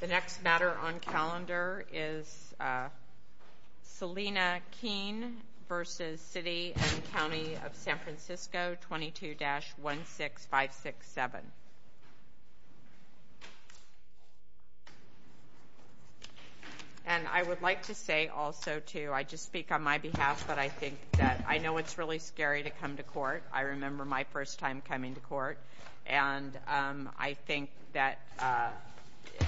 22-16567. And I would like to say also, too, I just speak on my behalf, but I think that I know it's really scary to come to court. I remember my first time coming to court, and I think that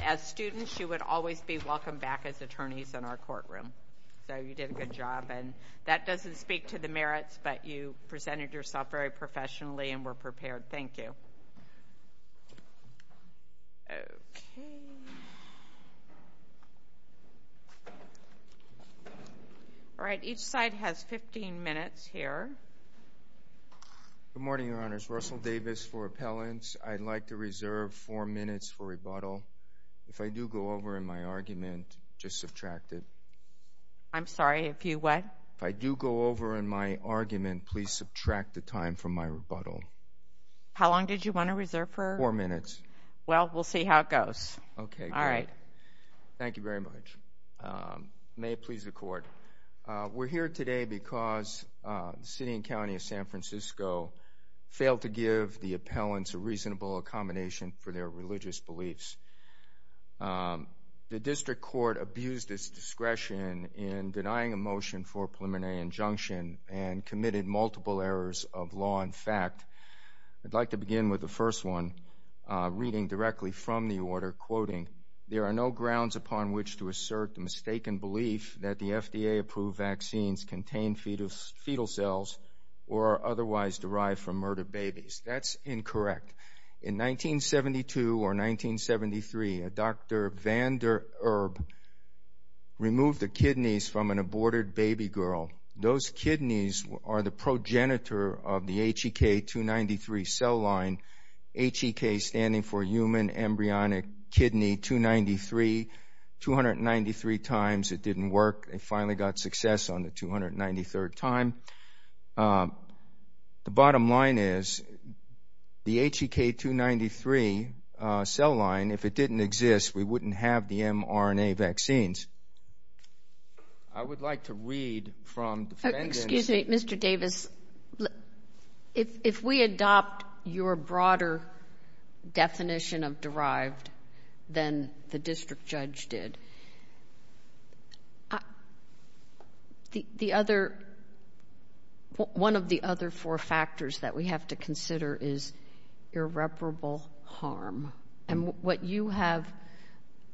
as students, you would always be welcomed back as attorneys in our courtroom. So you did a good job, and that doesn't speak to the merits, but you presented yourself very professionally and were prepared. Thank you. Okay. All right. Each side has 15 minutes here. Good morning, Your Honors. Russell Davis for appellants. I'd like to reserve four minutes for rebuttal. If I do go over in my argument, just subtract it. I'm sorry. If you what? If I do go over in my argument, please subtract the time from my rebuttal. How long did you want to reserve for? Four minutes. Well, we'll see how it goes. All right. Thank you very much. May it please the Court. We're here today because the City and County of San Francisco failed to give the appellants a reasonable accommodation for their religious beliefs. The District Court abused its discretion in denying a motion for a preliminary injunction and committed multiple errors of law and fact. I'd like to begin with the first one, reading directly from the order, quoting, there are no grounds upon which to assert the mistaken belief that the FDA-approved vaccines contain fetal cells or are otherwise derived from murdered babies. That's incorrect. In 1972 or 1973, Dr. Van der Erb removed the kidneys from an aborted baby girl. Those kidneys are the progenitor of the HEK 293 cell line, HEK standing for Human Embryonic Kidney 293. 293 times it didn't work. It finally got success on the 293rd time. The bottom line is the HEK 293 cell line, if it didn't exist, we wouldn't have the mRNA vaccines. I would like to read from defendants. Excuse me, Mr. Davis. If we adopt your broader definition of derived than the district judge did, one of the other four factors that we have to consider is irreparable harm. And what you have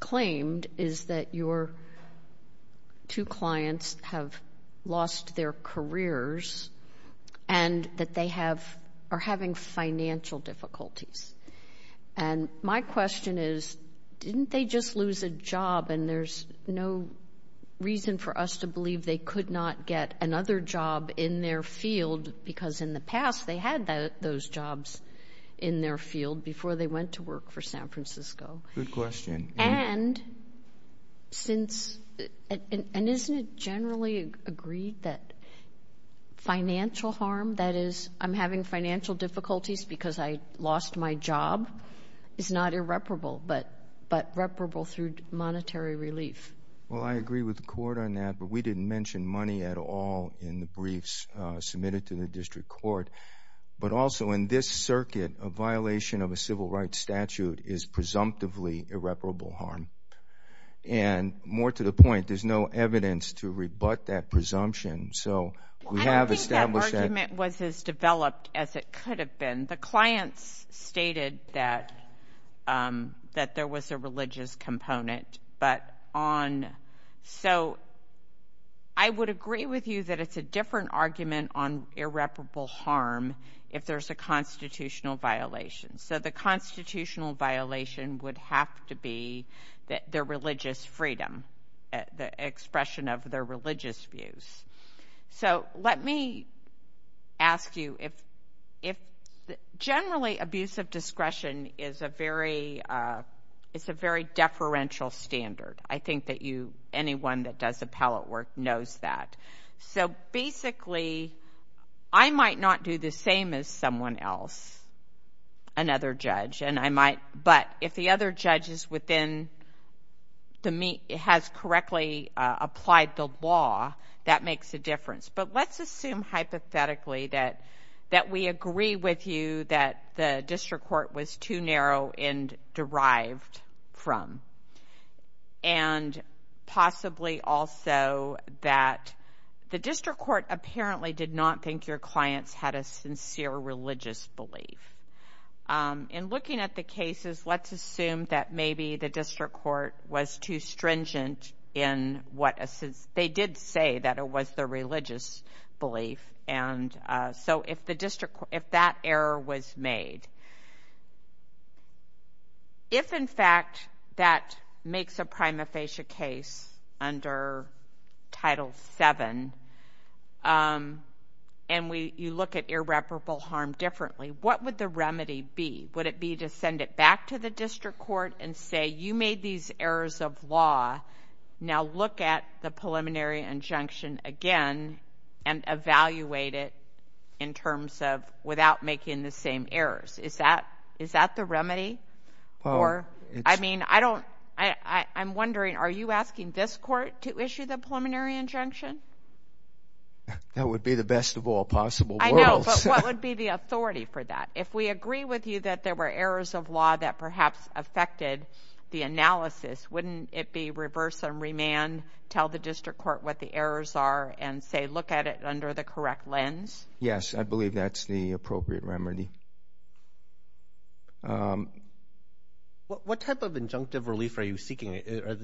claimed is that your two clients have lost their careers and that they are having financial difficulties. And my question is, didn't they just lose a job, and there's no reason for us to believe they could not get another job in their field because in the past they had those jobs in their field before they went to work for San Francisco? Good question. And isn't it generally agreed that financial harm, that is I'm having financial difficulties because I lost my job, is not irreparable but reparable through monetary relief? Well, I agree with the court on that, but we didn't mention money at all in the briefs submitted to the district court. But also in this circuit, a violation of a civil rights statute is presumptively irreparable harm. And more to the point, there's no evidence to rebut that presumption. So we have established that. I don't think that argument was as developed as it could have been. The clients stated that there was a religious component. So I would agree with you that it's a different argument on irreparable harm if there's a constitutional violation. So the constitutional violation would have to be their religious freedom, the expression of their religious views. So let me ask you, generally, abuse of discretion is a very deferential standard. I think that anyone that does appellate work knows that. So basically, I might not do the same as someone else, another judge, but if the other judge has correctly applied the law, that makes a difference. But let's assume hypothetically that we agree with you that the district court was too narrow and derived from, and possibly also that the district court apparently did not think your clients had a sincere religious belief. In looking at the cases, let's assume that maybe the district court was too stringent They did say that it was the religious belief. So if that error was made, if in fact that makes a prima facie case under Title VII and you look at irreparable harm differently, what would the remedy be? Would it be to send it back to the district court and say, you made these errors of law, now look at the preliminary injunction again and evaluate it in terms of without making the same errors. Is that the remedy? I mean, I'm wondering, are you asking this court to issue the preliminary injunction? That would be the best of all possible worlds. I know, but what would be the authority for that? If we agree with you that there were errors of law that perhaps affected the analysis, wouldn't it be reverse and remand, tell the district court what the errors are and say look at it under the correct lens? Yes, I believe that's the appropriate remedy. What type of injunctive relief are you seeking?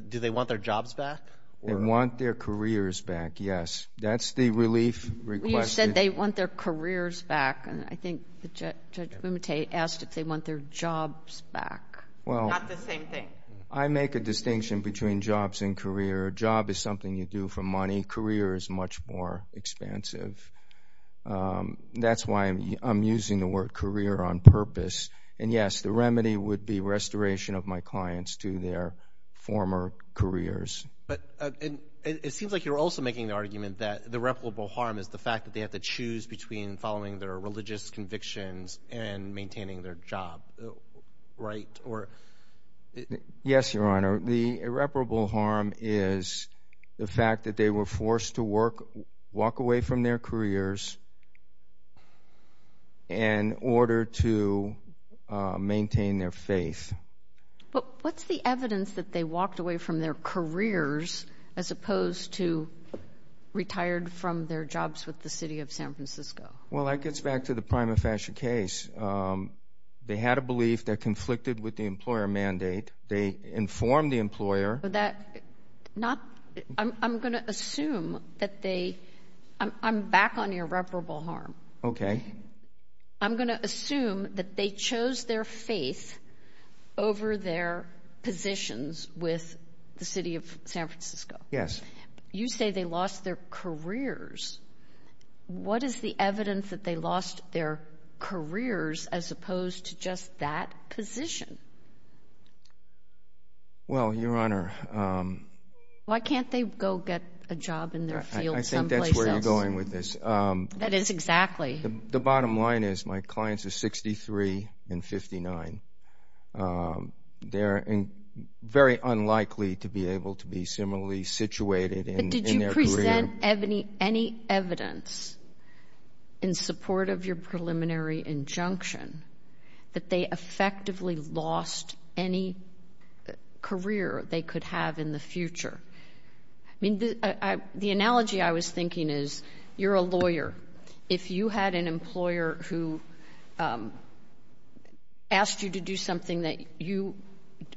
Do they want their jobs back? They want their careers back, yes. That's the relief requested. You said they want their careers back, and I think Judge Bumate asked if they want their jobs back. Not the same thing. I make a distinction between jobs and career. A job is something you do for money. Career is much more expansive. That's why I'm using the word career on purpose. And, yes, the remedy would be restoration of my clients to their former careers. It seems like you're also making the argument that the irreparable harm is the fact that they have to choose between following their religious convictions and maintaining their job, right? Yes, Your Honor. The irreparable harm is the fact that they were forced to walk away from their careers in order to maintain their faith. But what's the evidence that they walked away from their careers as opposed to retired from their jobs with the city of San Francisco? Well, that gets back to the Prima Fascia case. They had a belief that conflicted with the employer mandate. They informed the employer. I'm going to assume that they – I'm back on irreparable harm. Okay. I'm going to assume that they chose their faith over their positions with the city of San Francisco. Yes. You say they lost their careers. What is the evidence that they lost their careers as opposed to just that position? Well, Your Honor. Why can't they go get a job in their field someplace else? I think that's where you're going with this. That is exactly. The bottom line is my clients are 63 and 59. They're very unlikely to be able to be similarly situated in their career. But did you present any evidence in support of your preliminary injunction that they effectively lost any career they could have in the future? I mean, the analogy I was thinking is you're a lawyer. If you had an employer who asked you to do something that you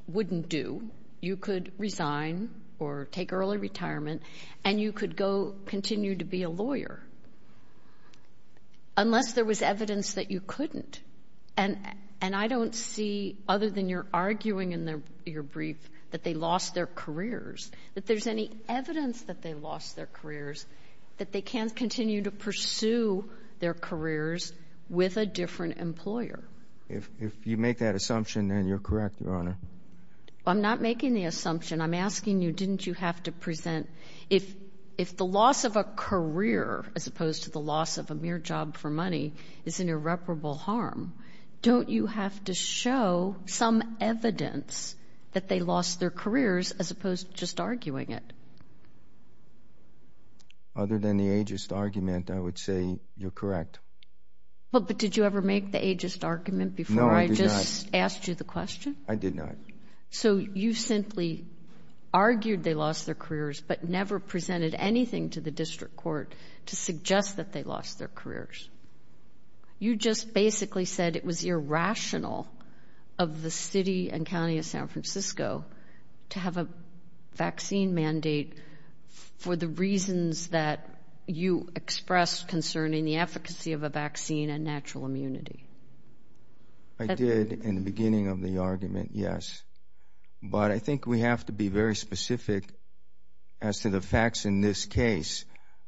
wouldn't do, you could resign or take early retirement and you could go continue to be a lawyer unless there was evidence that you couldn't. And I don't see, other than you're arguing in your brief that they lost their careers, that there's any evidence that they lost their careers, that they can continue to pursue their careers with a different employer. If you make that assumption, then you're correct, Your Honor. I'm not making the assumption. I'm asking you didn't you have to present if the loss of a career as opposed to the loss of a mere job for money is an irreparable harm, as opposed to just arguing it? Other than the ageist argument, I would say you're correct. But did you ever make the ageist argument before I just asked you the question? No, I did not. I did not. So you simply argued they lost their careers but never presented anything to the district court to suggest that they lost their careers. You just basically said it was irrational of the city and county of San Francisco to have a vaccine mandate for the reasons that you expressed concern in the efficacy of a vaccine and natural immunity. I did in the beginning of the argument, yes. But I think we have to be very specific as to the facts in this case.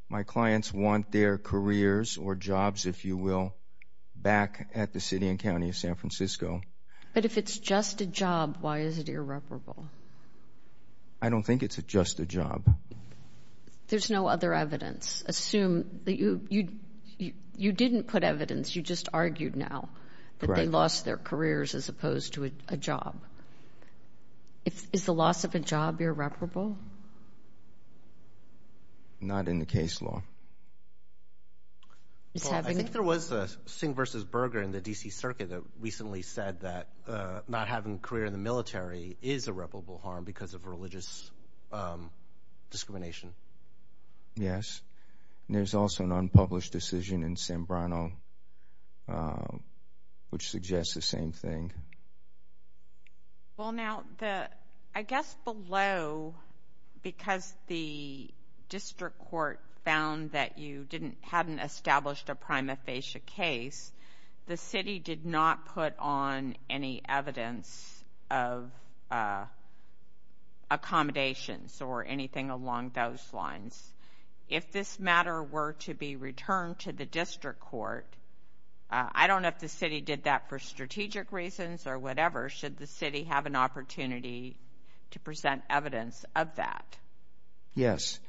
My clients want their careers or jobs, if you will, back at the city and county of San Francisco. But if it's just a job, why is it irreparable? I don't think it's just a job. There's no other evidence. Assume that you didn't put evidence. You just argued now that they lost their careers as opposed to a job. Is the loss of a job irreparable? Not in the case law. I think there was a Singh v. Berger in the D.C. Circuit that recently said that not having a career in the military is irreparable harm because of religious discrimination. Yes. There's also an unpublished decision in San Bruno which suggests the same thing. Well, now, I guess below, because the district court found that you hadn't established a prima facie case, the city did not put on any evidence of accommodations or anything along those lines. If this matter were to be returned to the district court, I don't know if the city did that for strategic reasons or whatever. Should the city have an opportunity to present evidence of that? Yes.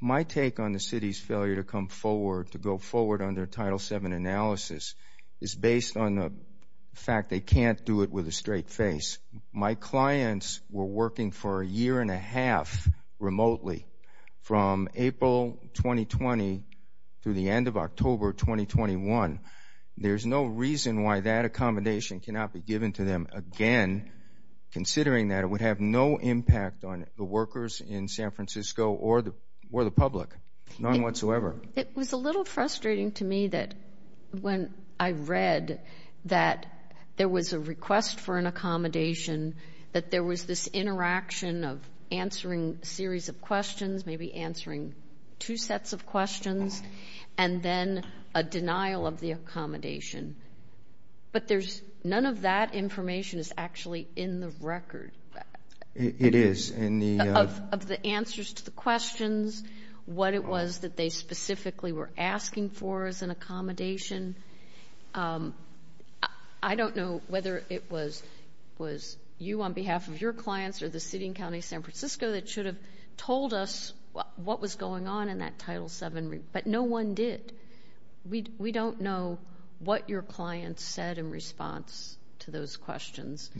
My take on the city's failure to go forward under Title VII analysis is based on the fact they can't do it with a straight face. My clients were working for a year and a half remotely from April 2020 through the end of October 2021. There's no reason why that accommodation cannot be given to them again, considering that it would have no impact on the workers in San Francisco or the public, none whatsoever. It was a little frustrating to me that when I read that there was a request for an accommodation, maybe answering two sets of questions, and then a denial of the accommodation. But none of that information is actually in the record. It is. Of the answers to the questions, what it was that they specifically were asking for as an accommodation. I don't know whether it was you on behalf of your clients or the city and county of San Francisco that should have told us what was going on in that Title VII. But no one did. We don't know what your clients said in response to those questions.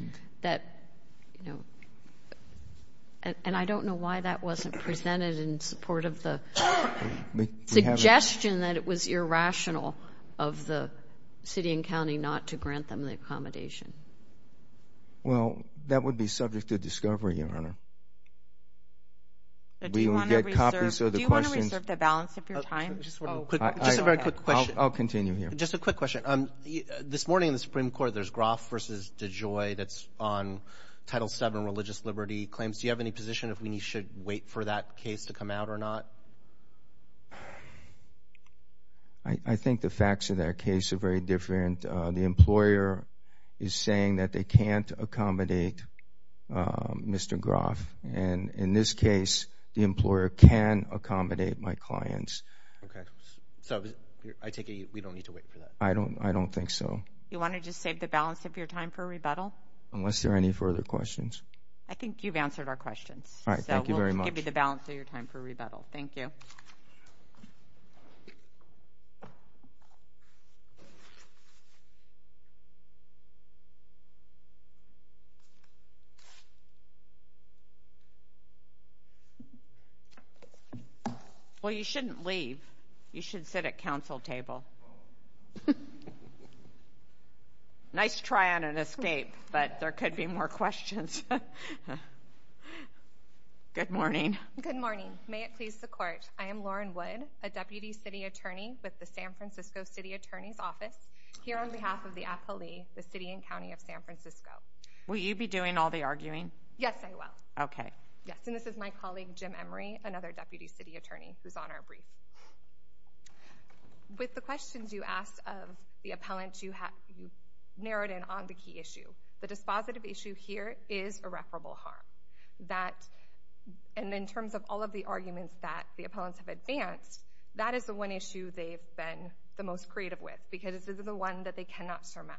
And I don't know why that wasn't presented in support of the suggestion that it was irrational of the city and county not to grant them the accommodation. Well, that would be subject to discovery, Your Honor. Do you want to reserve the balance of your time? Just a very quick question. I'll continue here. Just a quick question. This morning in the Supreme Court there's Groff v. DeJoy that's on Title VII religious liberty claims. Do you have any position of when you should wait for that case to come out or not? I think the facts of that case are very different. The employer is saying that they can't accommodate Mr. Groff, and in this case the employer can accommodate my clients. Okay. So I take it we don't need to wait for that? I don't think so. Do you want to just save the balance of your time for rebuttal? Unless there are any further questions. All right. Thank you very much. I'll give you the balance of your time for rebuttal. Thank you. Well, you shouldn't leave. You should sit at counsel table. Nice try on an escape, but there could be more questions. Good morning. Good morning. May it please the Court. I am Lauren Wood, a Deputy City Attorney with the San Francisco City Attorney's Office, here on behalf of the APALE, the City and County of San Francisco. Will you be doing all the arguing? Yes, I will. Okay. Yes, and this is my colleague Jim Emery, another Deputy City Attorney, who's on our brief. With the questions you asked of the appellant, you narrowed in on the key issue. The dispositive issue here is irreparable harm. And in terms of all of the arguments that the appellants have advanced, that is the one issue they've been the most creative with, because this is the one that they cannot surmount.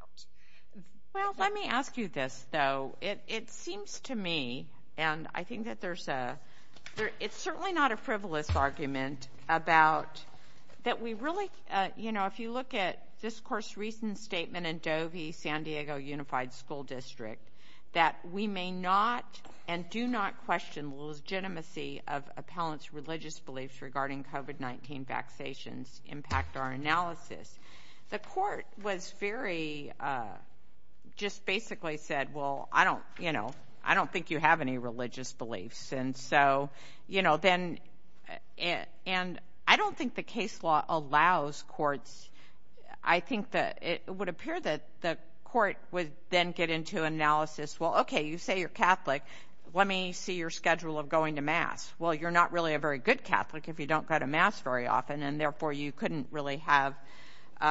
Well, let me ask you this, though. It seems to me, and I think that there's a – it's certainly not a frivolous argument about that we really – that we may not and do not question the legitimacy of appellants' religious beliefs regarding COVID-19 vaccinations impact our analysis. The Court was very – just basically said, well, I don't – you know, I don't think you have any religious beliefs. And so, you know, then – and I don't think the case law allows courts – I think that it would appear that the court would then get into analysis, well, okay, you say you're Catholic. Let me see your schedule of going to mass. Well, you're not really a very good Catholic if you don't go to mass very often, and therefore, you couldn't really have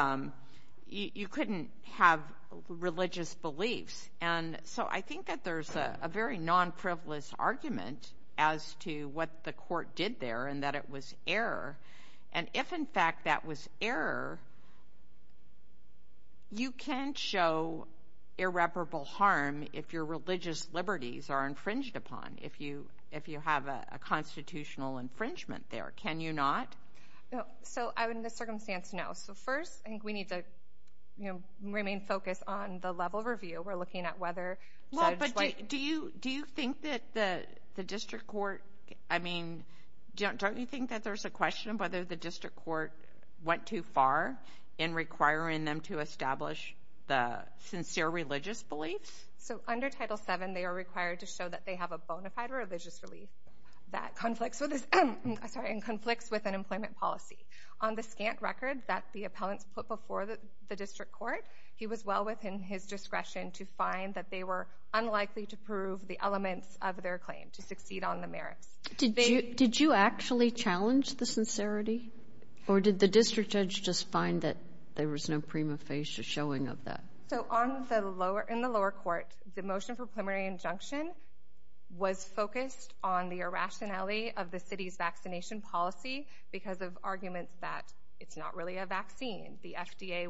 – you couldn't have religious beliefs. And so I think that there's a very non-frivolous argument as to what the court did there, and that it was error. And if, in fact, that was error, you can show irreparable harm if your religious liberties are infringed upon, if you have a constitutional infringement there. Can you not? So in this circumstance, no. So first, I think we need to, you know, remain focused on the level of review. We're looking at whether – Well, but do you think that the district court – I mean, don't you think that there's a question of whether the district court went too far in requiring them to establish the sincere religious beliefs? So under Title VII, they are required to show that they have a bona fide religious belief that conflicts with an employment policy. On the scant record that the appellants put before the district court, he was well within his discretion to find that they were unlikely to prove the elements of their claim to succeed on the merits. Did you actually challenge the sincerity? Or did the district judge just find that there was no prima facie showing of that? So in the lower court, the motion for preliminary injunction was focused on the irrationality of the city's vaccination policy because of arguments that it's not really a vaccine. The FDA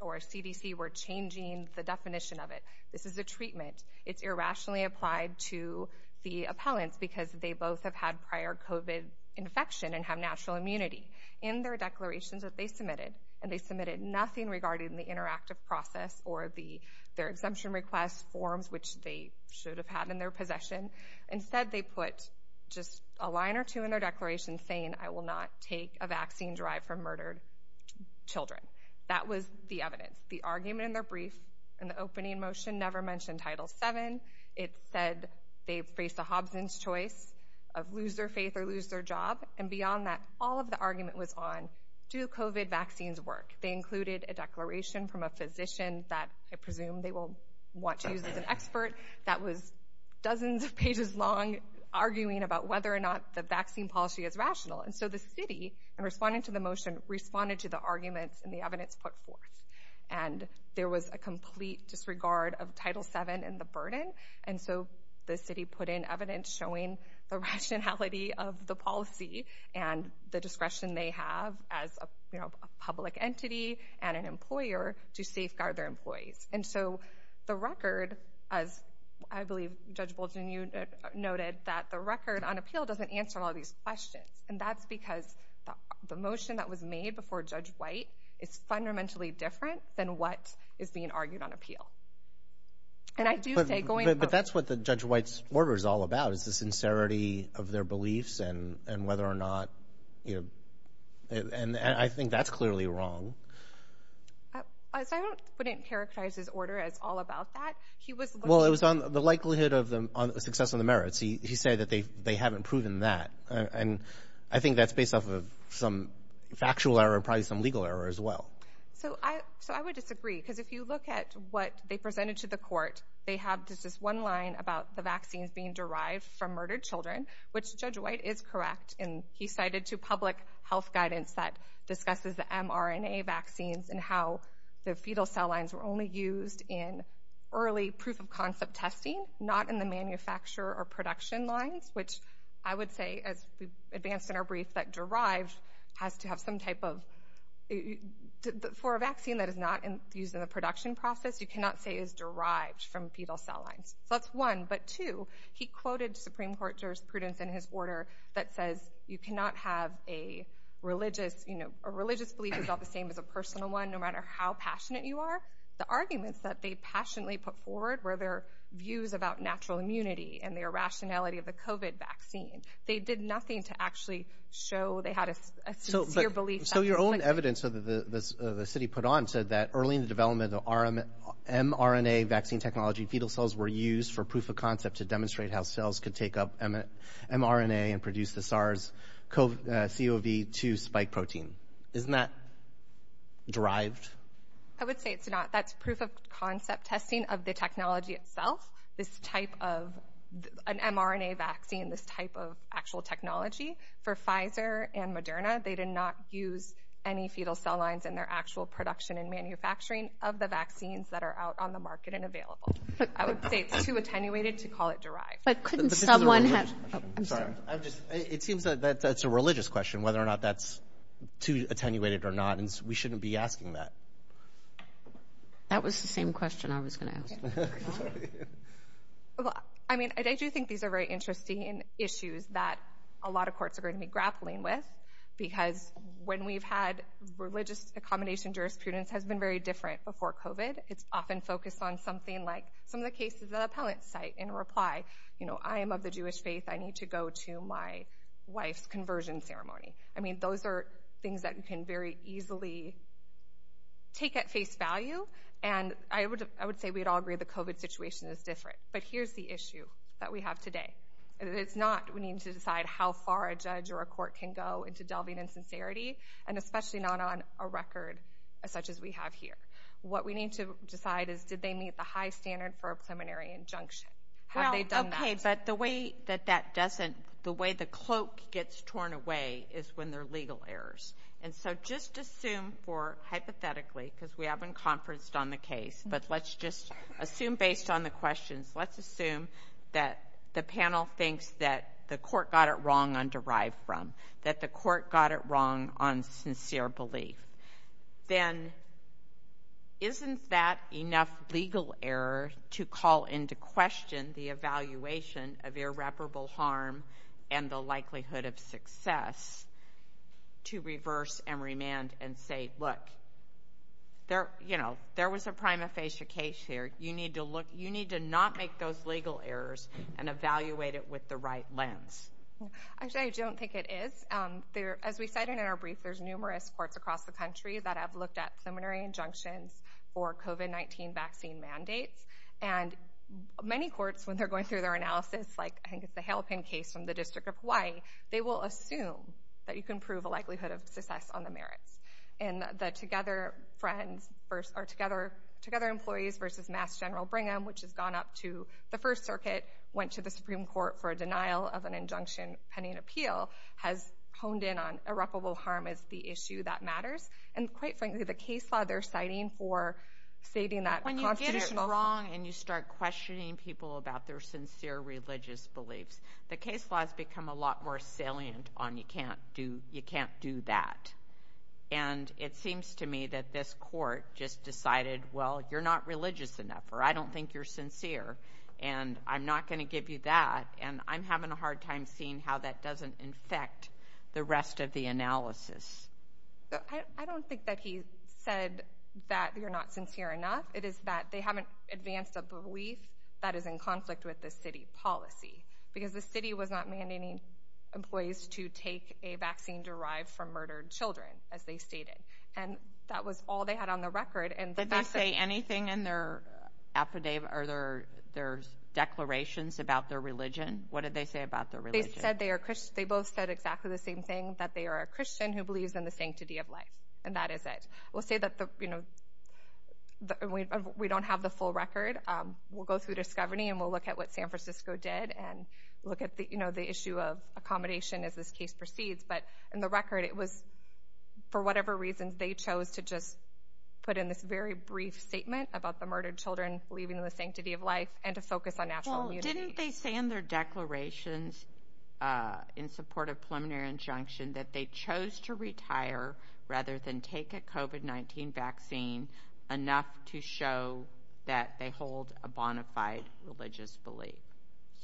or CDC were changing the definition of it. This is a treatment. It's irrationally applied to the appellants because they both have had prior COVID infection and have natural immunity. In their declarations that they submitted – and they submitted nothing regarding the interactive process or their exemption request forms, which they should have had in their possession. Instead, they put just a line or two in their declaration saying, I will not take a vaccine derived from murdered children. That was the evidence. The argument in their brief in the opening motion never mentioned Title VII. It said they faced a Hobson's choice of lose their faith or lose their job. And beyond that, all of the argument was on do COVID vaccines work? They included a declaration from a physician that I presume they will want to use as an expert that was dozens of pages long arguing about whether or not the vaccine policy is rational. And so the city, in responding to the motion, responded to the arguments and the evidence put forth. And there was a complete disregard of Title VII and the burden. And so the city put in evidence showing the rationality of the policy and the discretion they have as a public entity and an employer to safeguard their employees. And so the record, as I believe Judge Bolton, you noted, that the record on appeal doesn't answer all these questions. And that's because the motion that was made before Judge White is fundamentally different than what is being argued on appeal. But that's what Judge White's order is all about is the sincerity of their beliefs and whether or not, you know, and I think that's clearly wrong. I wouldn't characterize his order as all about that. Well, it was on the likelihood of success on the merits. He said that they haven't proven that. And I think that's based off of some factual error, probably some legal error as well. So I would disagree because if you look at what they presented to the court, they have just this one line about the vaccines being derived from murdered children, which Judge White is correct in. He cited to public health guidance that discusses the mRNA vaccines and how the fetal cell lines were only used in early proof-of-concept testing, not in the manufacturer or production lines, which I would say, as we've advanced in our brief, that derived has to have some type of – for a vaccine that is not used in the production process, you cannot say it is derived from fetal cell lines. So that's one. But two, he quoted Supreme Court jurisprudence in his order that says you cannot have a religious belief that's not the same as a personal one no matter how passionate you are. The arguments that they passionately put forward were their views about natural immunity and their rationality of the COVID vaccine. They did nothing to actually show they had a sincere belief. So your own evidence that the city put on said that early in the development of mRNA vaccine technology, fetal cells were used for proof-of-concept to demonstrate how cells could take up mRNA and produce the SARS-CoV-2 spike protein. Isn't that derived? I would say it's not. That's proof-of-concept testing of the technology itself, this type of – an mRNA vaccine, this type of actual technology. For Pfizer and Moderna, they did not use any fetal cell lines in their actual production and manufacturing of the vaccines that are out on the market and available. I would say it's too attenuated to call it derived. But couldn't someone have – I'm sorry. I'm just – it seems that that's a religious question, whether or not that's too attenuated or not, and we shouldn't be asking that. That was the same question I was going to ask. Well, I mean, I do think these are very interesting issues that a lot of courts are going to be grappling with because when we've had religious accommodation, jurisprudence has been very different before COVID. It's often focused on something like some of the cases that appellants cite in reply. You know, I am of the Jewish faith. I need to go to my wife's conversion ceremony. I mean, those are things that you can very easily take at face value. And I would say we'd all agree the COVID situation is different. But here's the issue that we have today. It's not we need to decide how far a judge or a court can go into delving in sincerity, and especially not on a record such as we have here. What we need to decide is did they meet the high standard for a preliminary injunction? Have they done that? Okay, but the way that that doesn't, the way the cloak gets torn away is when there are legal errors. And so just assume for hypothetically, because we haven't conferenced on the case, but let's just assume based on the questions, let's assume that the panel thinks that the court got it wrong on derived from, that the court got it wrong on sincere belief. Then isn't that enough legal error to call into question the evaluation of irreparable harm and the likelihood of success to reverse and remand and say, look, there was a prima facie case here. You need to not make those legal errors and evaluate it with the right lens. Actually, I don't think it is. As we cited in our brief, there's numerous courts across the country that have looked at preliminary injunctions for COVID-19 vaccine mandates. And many courts, when they're going through their analysis, like I think it's the Hale-Penn case from the District of Hawaii, they will assume that you can prove a likelihood of success on the merits. And the Together employees versus Mass General Brigham, which has gone up to the First Circuit, went to the Supreme Court for a denial of an injunction pending appeal, has honed in on irreparable harm as the issue that matters. And quite frankly, the case law they're citing for stating that constitutional When you get it wrong and you start questioning people about their sincere religious beliefs, the case law has become a lot more salient on you can't do that. And it seems to me that this court just decided, And I'm not going to give you that. And I'm having a hard time seeing how that doesn't infect the rest of the analysis. I don't think that he said that you're not sincere enough. It is that they haven't advanced a belief that is in conflict with the city policy because the city was not mandating employees to take a vaccine derived from murdered children, as they stated. And that was all they had on the record. Did they say anything in their declarations about their religion? What did they say about their religion? They both said exactly the same thing, that they are a Christian who believes in the sanctity of life, and that is it. We'll say that we don't have the full record. We'll go through discovery, and we'll look at what San Francisco did and look at the issue of accommodation as this case proceeds. But in the record, it was, for whatever reason, they chose to just put in this very brief statement about the murdered children believing in the sanctity of life and to focus on natural immunity. Well, didn't they say in their declarations in support of preliminary injunction that they chose to retire rather than take a COVID-19 vaccine enough to show that they hold a bona fide religious belief?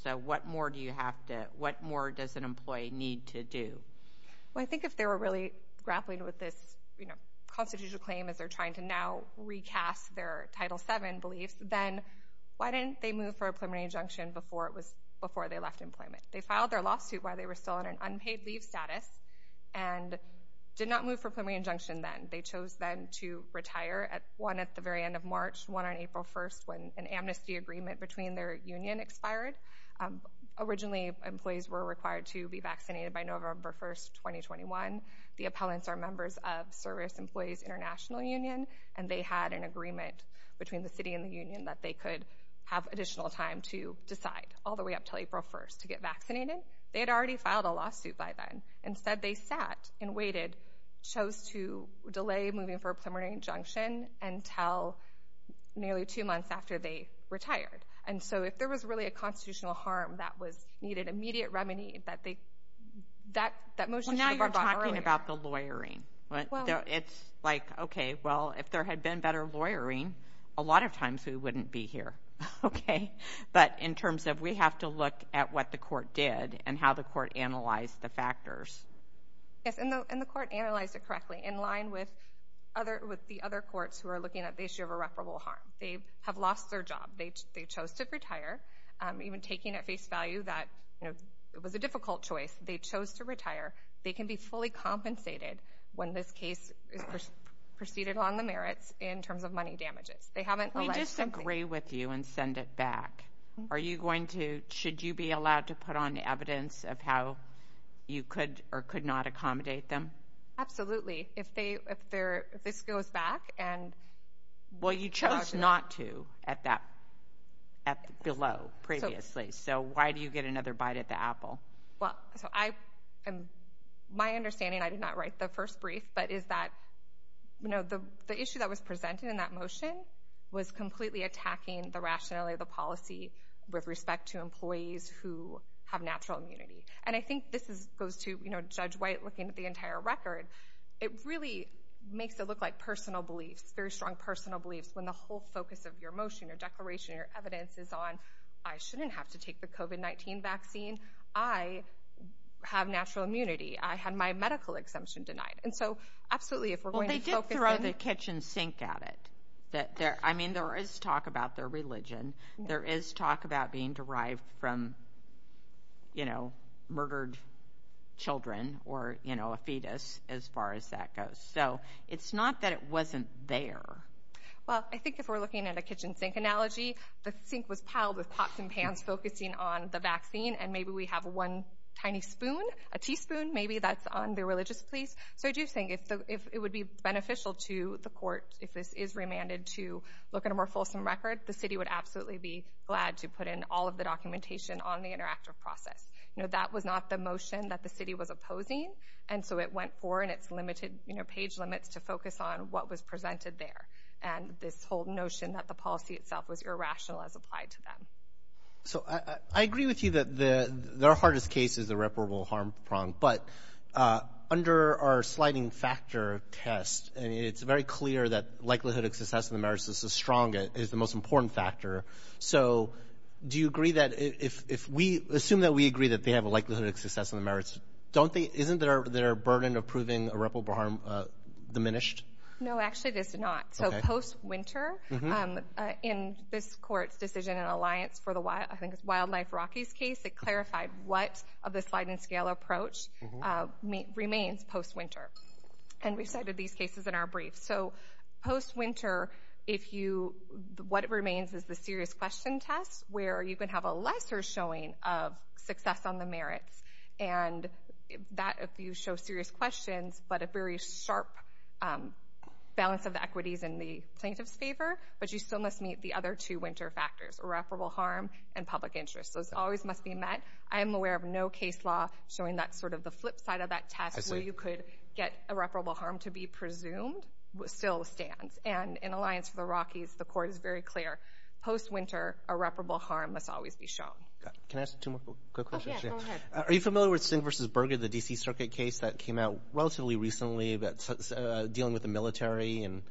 So what more does an employee need to do? Well, I think if they were really grappling with this constitutional claim as they're trying to now recast their Title VII beliefs, then why didn't they move for a preliminary injunction before they left employment? They filed their lawsuit while they were still in an unpaid leave status and did not move for a preliminary injunction then. They chose then to retire, one at the very end of March, one on April 1st when an amnesty agreement between their union expired. Originally, employees were required to be vaccinated by November 1st, 2021. The appellants are members of Service Employees International Union, and they had an agreement between the city and the union that they could have additional time to decide all the way up until April 1st to get vaccinated. They had already filed a lawsuit by then. Instead, they sat and waited, chose to delay moving for a preliminary injunction until nearly two months after they retired. And so if there was really a constitutional harm that needed immediate remedy, that motion should have gone earlier. Well, now you're talking about the lawyering. It's like, okay, well, if there had been better lawyering, a lot of times we wouldn't be here, okay? But in terms of we have to look at what the court did and how the court analyzed the factors. Yes, and the court analyzed it correctly in line with the other courts who are looking at the issue of irreparable harm. They have lost their job. They chose to retire, even taking at face value that it was a difficult choice. They chose to retire. They can be fully compensated when this case is preceded on the merits in terms of money damages. We disagree with you and send it back. Should you be allowed to put on evidence of how you could or could not accommodate them? Absolutely. If this goes back and charges them. Well, you chose not to at that below previously, so why do you get another bite at the apple? Well, my understanding, I did not write the first brief, but is that the issue that was presented in that motion was completely attacking the rationality of the policy with respect to employees who have natural immunity. And I think this goes to Judge White looking at the entire record. It really makes it look like personal beliefs, very strong personal beliefs when the whole focus of your motion, your declaration, your evidence is on, I shouldn't have to take the COVID-19 vaccine. I have natural immunity. I had my medical exemption denied. And so absolutely if we're going to focus in. Well, they did throw the kitchen sink at it. I mean, there is talk about their religion. There is talk about being derived from, you know, as far as that goes. So it's not that it wasn't there. Well, I think if we're looking at a kitchen sink analogy, the sink was piled with pots and pans focusing on the vaccine and maybe we have one tiny spoon, a teaspoon, maybe that's on their religious beliefs. So I do think if it would be beneficial to the court if this is remanded to look at a more fulsome record, the city would absolutely be glad to put in all of the documentation on the interactive process. You know, that was not the motion that the city was opposing, and so it went forward in its limited, you know, page limits to focus on what was presented there and this whole notion that the policy itself was irrational as applied to them. So I agree with you that their hardest case is irreparable harm prong, but under our sliding factor test, it's very clear that likelihood of success in the merits is the strongest, is the most important factor. So do you agree that if we assume that we agree that they have a likelihood of success in the merits, isn't there a burden of proving irreparable harm diminished? No, actually, there's not. So post-winter, in this court's decision in alliance for the Wildlife Rockies case, it clarified what of the sliding scale approach remains post-winter, and we cited these cases in our brief. So post-winter, what remains is the serious question test where you can have a lesser showing of success on the merits and that if you show serious questions but a very sharp balance of equities in the plaintiff's favor, but you still must meet the other two winter factors, irreparable harm and public interest. Those always must be met. I am aware of no case law showing that sort of the flip side of that test where you could get irreparable harm to be presumed still stands, and in alliance for the Rockies, the court is very clear. Post-winter, irreparable harm must always be shown. Can I ask two more quick questions? Yes, go ahead. Are you familiar with Singh v. Berger, the D.C. Circuit case that came out relatively recently dealing with the military and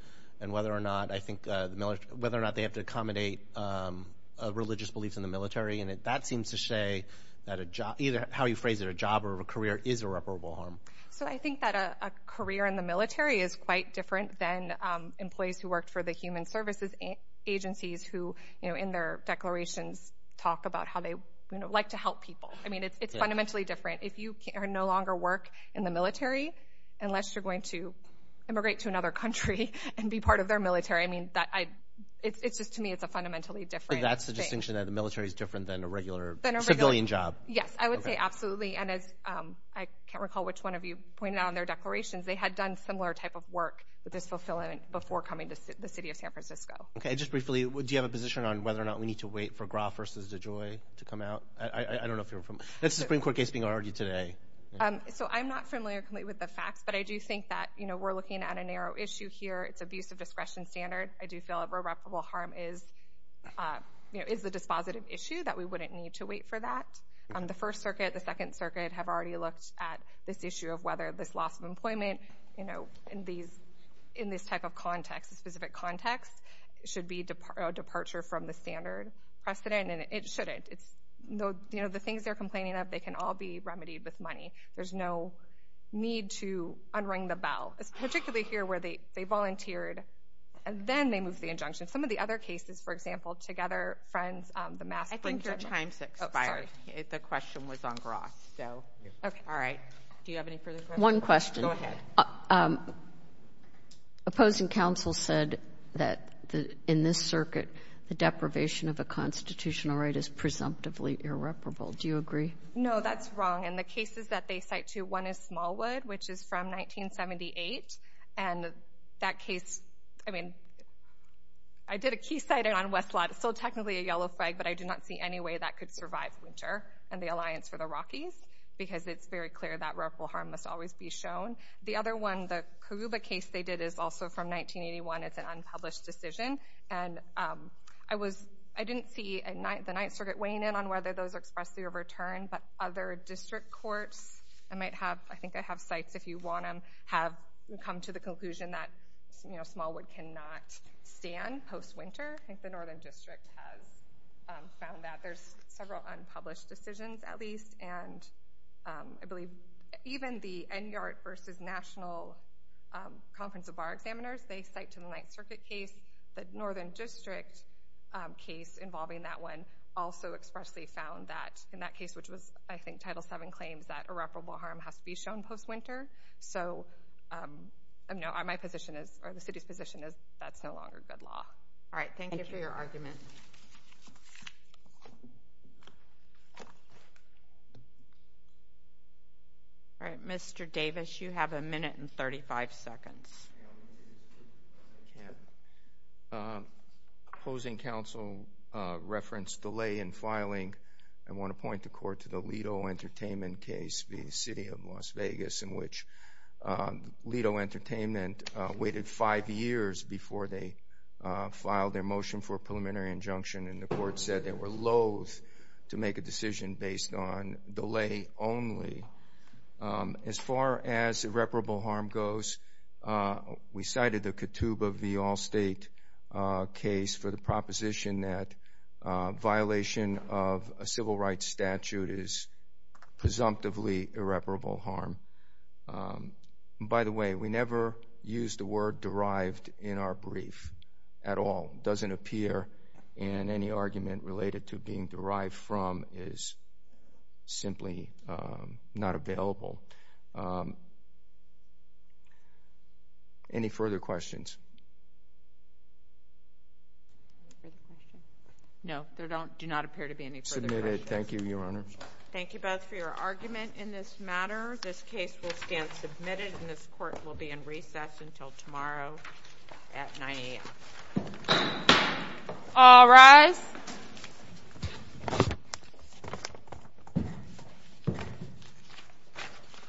whether or not they have to accommodate religious beliefs in the military? And that seems to say that either how you phrase it, a job or a career is irreparable harm. So I think that a career in the military is quite different than employees who worked for the human services agencies who in their declarations talk about how they like to help people. I mean, it's fundamentally different. If you no longer work in the military, unless you're going to immigrate to another country and be part of their military, I mean, it's just to me it's a fundamentally different thing. That's the distinction that the military is different than a regular civilian job? Yes, I would say absolutely. And as I can't recall which one of you pointed out in their declarations, they had done similar type of work with this fulfillment before coming to the city of San Francisco. Okay, just briefly, do you have a position on whether or not we need to wait for Graf versus DeJoy to come out? I don't know if you're familiar. That's a Supreme Court case being argued today. So I'm not familiar completely with the facts, but I do think that we're looking at a narrow issue here. It's abuse of discretion standard. I do feel irreparable harm is the dispositive issue that we wouldn't need to wait for that. The First Circuit, the Second Circuit have already looked at this issue of whether this loss of employment in this type of context, this specific context, should be a departure from the standard precedent, and it shouldn't. The things they're complaining of, they can all be remedied with money. There's no need to unring the bell, particularly here where they volunteered, and then they moved the injunction. Some of the other cases, for example, Together Friends, the mass— I think your time's expired. Oh, sorry. The question was on Graf. All right, do you have any further questions? One question. Go ahead. Opposing counsel said that in this circuit, the deprivation of a constitutional right is presumptively irreparable. Do you agree? No, that's wrong. And the cases that they cite, too, one is Smallwood, which is from 1978, and that case, I mean, I did a key sighting on West Lot. It's still technically a yellow flag, but I do not see any way that could survive Winter and the Alliance for the Rockies because it's very clear that reputable harm must always be shown. The other one, the Koguba case they did, is also from 1981. It's an unpublished decision. And I didn't see the Ninth Circuit weighing in on whether those are expressly overturned, but other district courts, I think they have sites if you want them, have come to the conclusion that Smallwood cannot stand post-Winter. I think the Northern District has found that. There's several unpublished decisions, at least, and I believe even the NYART versus National Conference of Bar Examiners, they cite to the Ninth Circuit case. The Northern District case involving that one also expressly found that. In that case, which was, I think, Title VII claims that irreparable harm has to be shown post-Winter. So, no, my position is, or the city's position is, that's no longer good law. All right, thank you for your argument. All right, Mr. Davis, you have a minute and 35 seconds. Opposing counsel referenced delay in filing. I want to point the court to the Lido Entertainment case v. City of Las Vegas, in which Lido Entertainment waited five years before they filed their motion for a preliminary injunction, and the court said they were loathe to make a decision based on delay only. As far as irreparable harm goes, we cited the Katooba v. Allstate case for the proposition that violation of a civil rights statute is presumptively irreparable harm. By the way, we never used the word derived in our brief at all. It doesn't appear, and any argument related to being derived from is simply not available. Any further questions? No, there do not appear to be any further questions. Submitted. Thank you, Your Honor. Thank you both for your argument in this matter. This case will stand submitted, and this court will be in recess until tomorrow at 9 a.m. All rise.